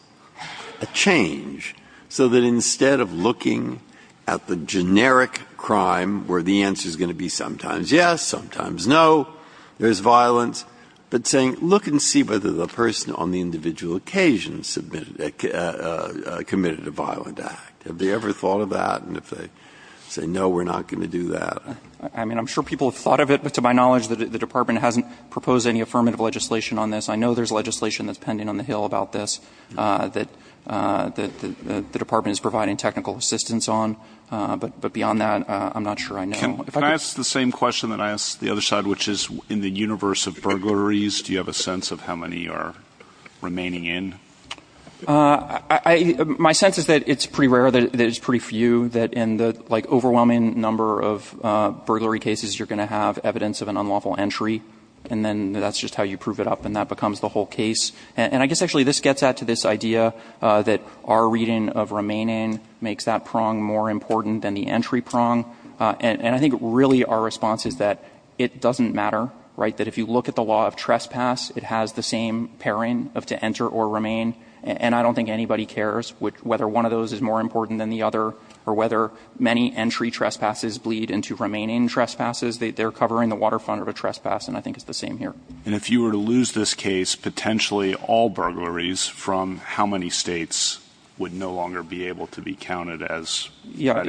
a change so that instead of looking at the generic crime where the answer's going to be sometimes yes, sometimes no, there's violence, but saying look and see whether the person on the individual occasion committed a violent act. Have they ever thought of that? And if they say no, we're not going to do that. I mean, I'm sure people have thought of it, but to my knowledge, the department hasn't proposed any affirmative legislation on this. I know there's legislation that's pending on the Hill about this that the department is providing technical assistance on. But beyond that, I'm not sure I know. Can I ask the same question that I asked the other side, which is in the universe of burglaries, do you have a sense of how many are remaining in? My sense is that it's pretty rare, that it's pretty few, that in the overwhelming number of burglary cases, you're going to have evidence of an unlawful entry. And then that's just how you prove it up, and that becomes the whole case. And I guess actually this gets at to this idea that our reading of remaining makes that prong more important than the entry prong. And I think really our response is that it doesn't matter, right, that if you look at the law of trespass, it has the same pairing of to enter or remain. And I don't think anybody cares whether one of those is more important than the other or whether many entry trespasses bleed into remaining trespasses. They're covering the waterfront of a trespass, and I think it's the same here. And if you were to lose this case, potentially all burglaries, from how many states would no longer be able to be counted as? Yeah,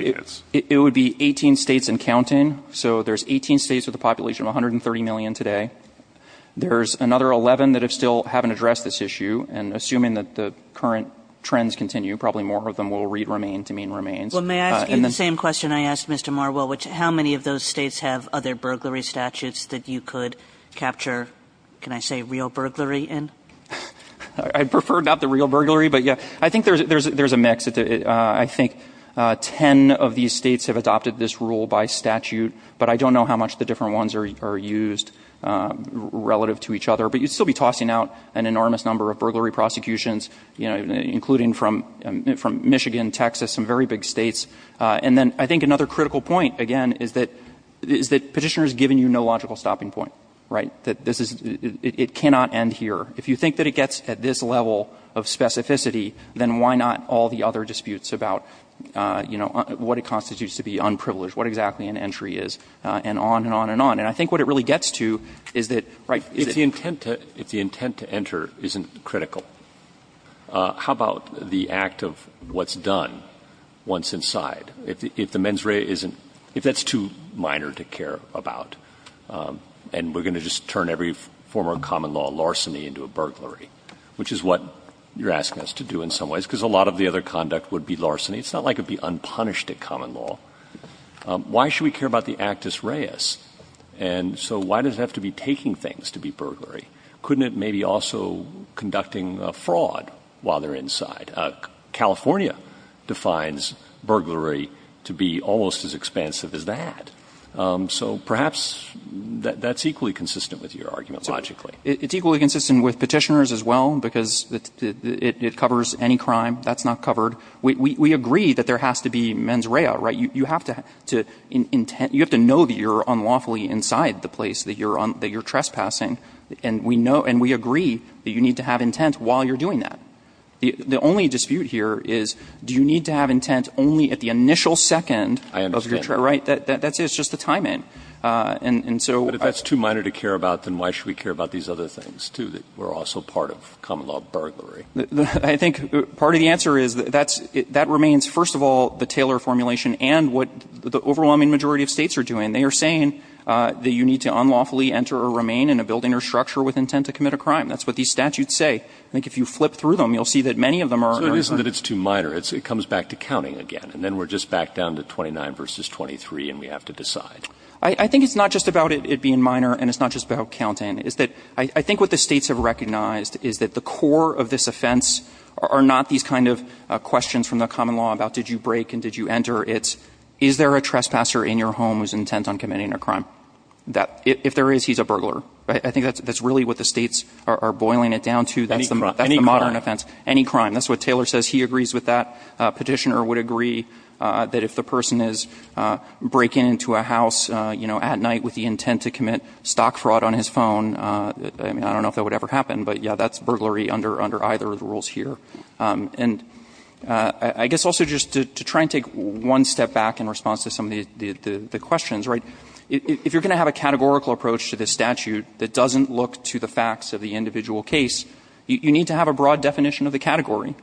it would be 18 states and counting. So there's 18 states with a population of 130 million today. There's another 11 that still haven't addressed this issue. And assuming that the current trends continue, probably more of them will read remain to mean remains. Well, may I ask you the same question I asked Mr. Marwell, which is how many of those states have other burglary statutes that you could capture, can I say, real burglary in? I prefer not the real burglary, but yeah, I think there's a mix. I think 10 of these states have adopted this rule by statute, but I don't know how much the different ones are used relative to each other. But you'd still be tossing out an enormous number of burglary prosecutions, including from Michigan, Texas, some very big states. And then I think another critical point, again, is that Petitioner has given you no logical stopping point, right? It cannot end here. If you think that it gets at this level of specificity, then why not all the other disputes about, you know, what it constitutes to be unprivileged, what exactly an entry is, and on and on and on. And I think what it really gets to is that, right? If the intent to enter isn't critical, how about the act of what's done once inside? If the mens rea isn't, if that's too minor to care about, and we're going to just turn every former common law larceny into a burglary, which is what you're asking us to do in some ways, because a lot of the other conduct would be larceny. It's not like it would be unpunished at common law. Why should we care about the actus reis? And so why does it have to be taking things to be burglary? Couldn't it maybe also conducting fraud while they're inside? California defines burglary to be almost as expansive as that. So perhaps that's equally consistent with your argument, logically. It's equally consistent with petitioners as well, because it covers any crime. That's not covered. We agree that there has to be mens rea, right? You have to know that you're unlawfully inside the place that you're trespassing, and we agree that you need to have intent while you're doing that. The only dispute here is do you need to have intent only at the initial second? I understand. Right? That's just the time in. But if that's too minor to care about, then why should we care about these other things, too, that were also part of common law burglary? I think part of the answer is that remains, first of all, the Taylor formulation and what the overwhelming majority of States are doing. They are saying that you need to unlawfully enter or remain in a building or structure with intent to commit a crime. That's what these statutes say. I think if you flip through them, you'll see that many of them are very hard. So it isn't that it's too minor. It comes back to counting again. And then we're just back down to 29 versus 23, and we have to decide. I think it's not just about it being minor, and it's not just about counting. I think what the States have recognized is that the core of this offense are not these kind of questions from the common law about did you break and did you enter? It's is there a trespasser in your home who's intent on committing a crime? If there is, he's a burglar. I think that's really what the States are boiling it down to. That's the modern offense. Any crime. Any crime. That's what Taylor says. He agrees with that. Petitioner would agree that if the person is breaking into a house at night with the intent to commit stock fraud on his phone, I don't know if that would ever happen. But, yeah, that's burglary under either of the rules here. And I guess also just to try and take one step back in response to some of the questions, if you're going to have a categorical approach to this statute that doesn't look to the facts of the individual case, you need to have a broad definition of the category.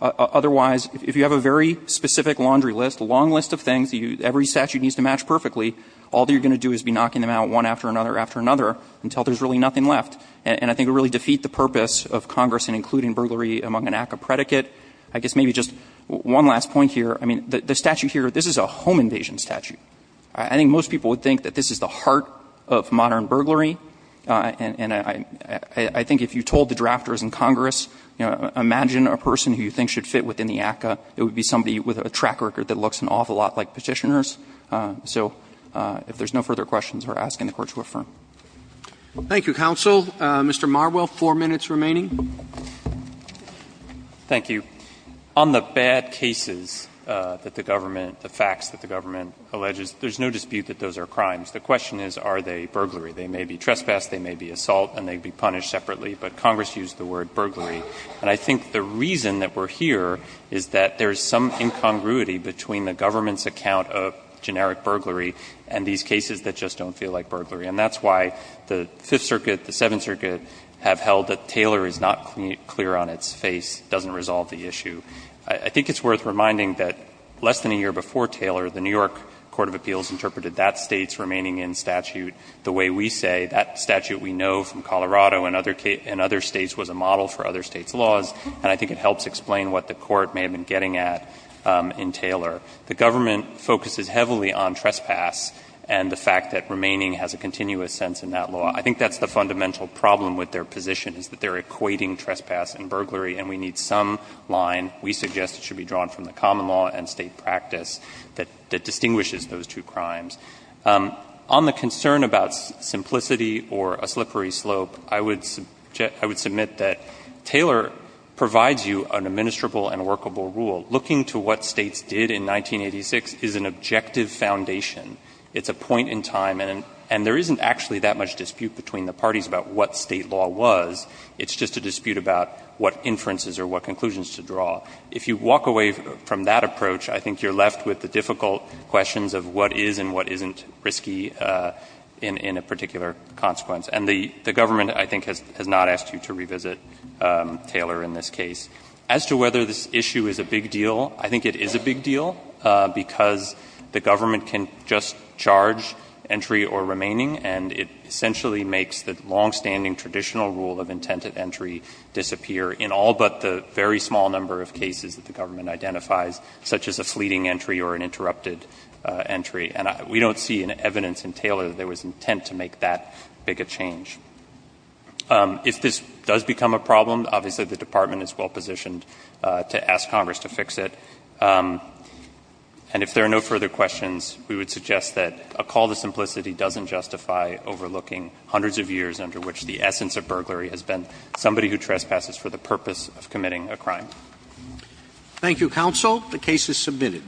Otherwise, if you have a very specific laundry list, a long list of things that every statute needs to match perfectly, all you're going to do is be knocking them out one after another after another until there's really nothing left. And I think it would really defeat the purpose of Congress in including burglary among an act of predicate. I guess maybe just one last point here. The statute here, this is a home invasion statute. I think most people would think that this is the heart of modern burglary. And I think if you told the drafters in Congress, you know, imagine a person who you think should fit within the ACCA, it would be somebody with a track record that looks an awful lot like Petitioner's. So if there's no further questions, we're asking the Court to affirm. Roberts. Thank you, counsel. Mr. Marwell, four minutes remaining. Thank you. On the bad cases that the government, the facts that the government alleges, there's no dispute that those are crimes. The question is, are they burglary? They may be trespass, they may be assault, and they'd be punished separately. But Congress used the word burglary. And I think the reason that we're here is that there's some incongruity between the government's account of generic burglary and these cases that just don't feel like burglary. And that's why the Fifth Circuit, the Seventh Circuit, have held that Taylor is not clear on its face, doesn't resolve the issue. I think it's worth reminding that less than a year before Taylor, the New York Court of Appeals interpreted that State's remaining in statute the way we say. That statute we know from Colorado and other States was a model for other States' laws. And I think it helps explain what the Court may have been getting at in Taylor. The government focuses heavily on trespass and the fact that remaining has a continuous sense in that law. I think that's the fundamental problem with their position, is that they're equating trespass and burglary, and we need some line we suggest should be drawn from the common law and State practice that distinguishes those two crimes. On the concern about simplicity or a slippery slope, I would submit that Taylor provides you an administrable and workable rule. Looking to what States did in 1986 is an objective foundation. It's a point in time, and there isn't actually that much dispute between the parties about what State law was. It's just a dispute about what inferences or what conclusions to draw. If you walk away from that approach, I think you're left with the difficult questions of what is and what isn't risky in a particular consequence. And the government, I think, has not asked you to revisit Taylor in this case. As to whether this issue is a big deal, I think it is a big deal, because the government can just charge entry or remaining, and it essentially makes the long-standing traditional rule of intent at entry disappear in all but the very small number of cases that the government identifies, such as a fleeting entry or an interrupted entry. And we don't see in evidence in Taylor that there was intent to make that big a change. If this does become a problem, obviously the Department is well positioned to ask Congress to fix it. And if there are no further questions, we would suggest that a call to simplicity doesn't justify overlooking hundreds of years under which the essence of burglary has been somebody who trespasses for the purpose of committing a crime. Thank you, Counsel. The case is submitted.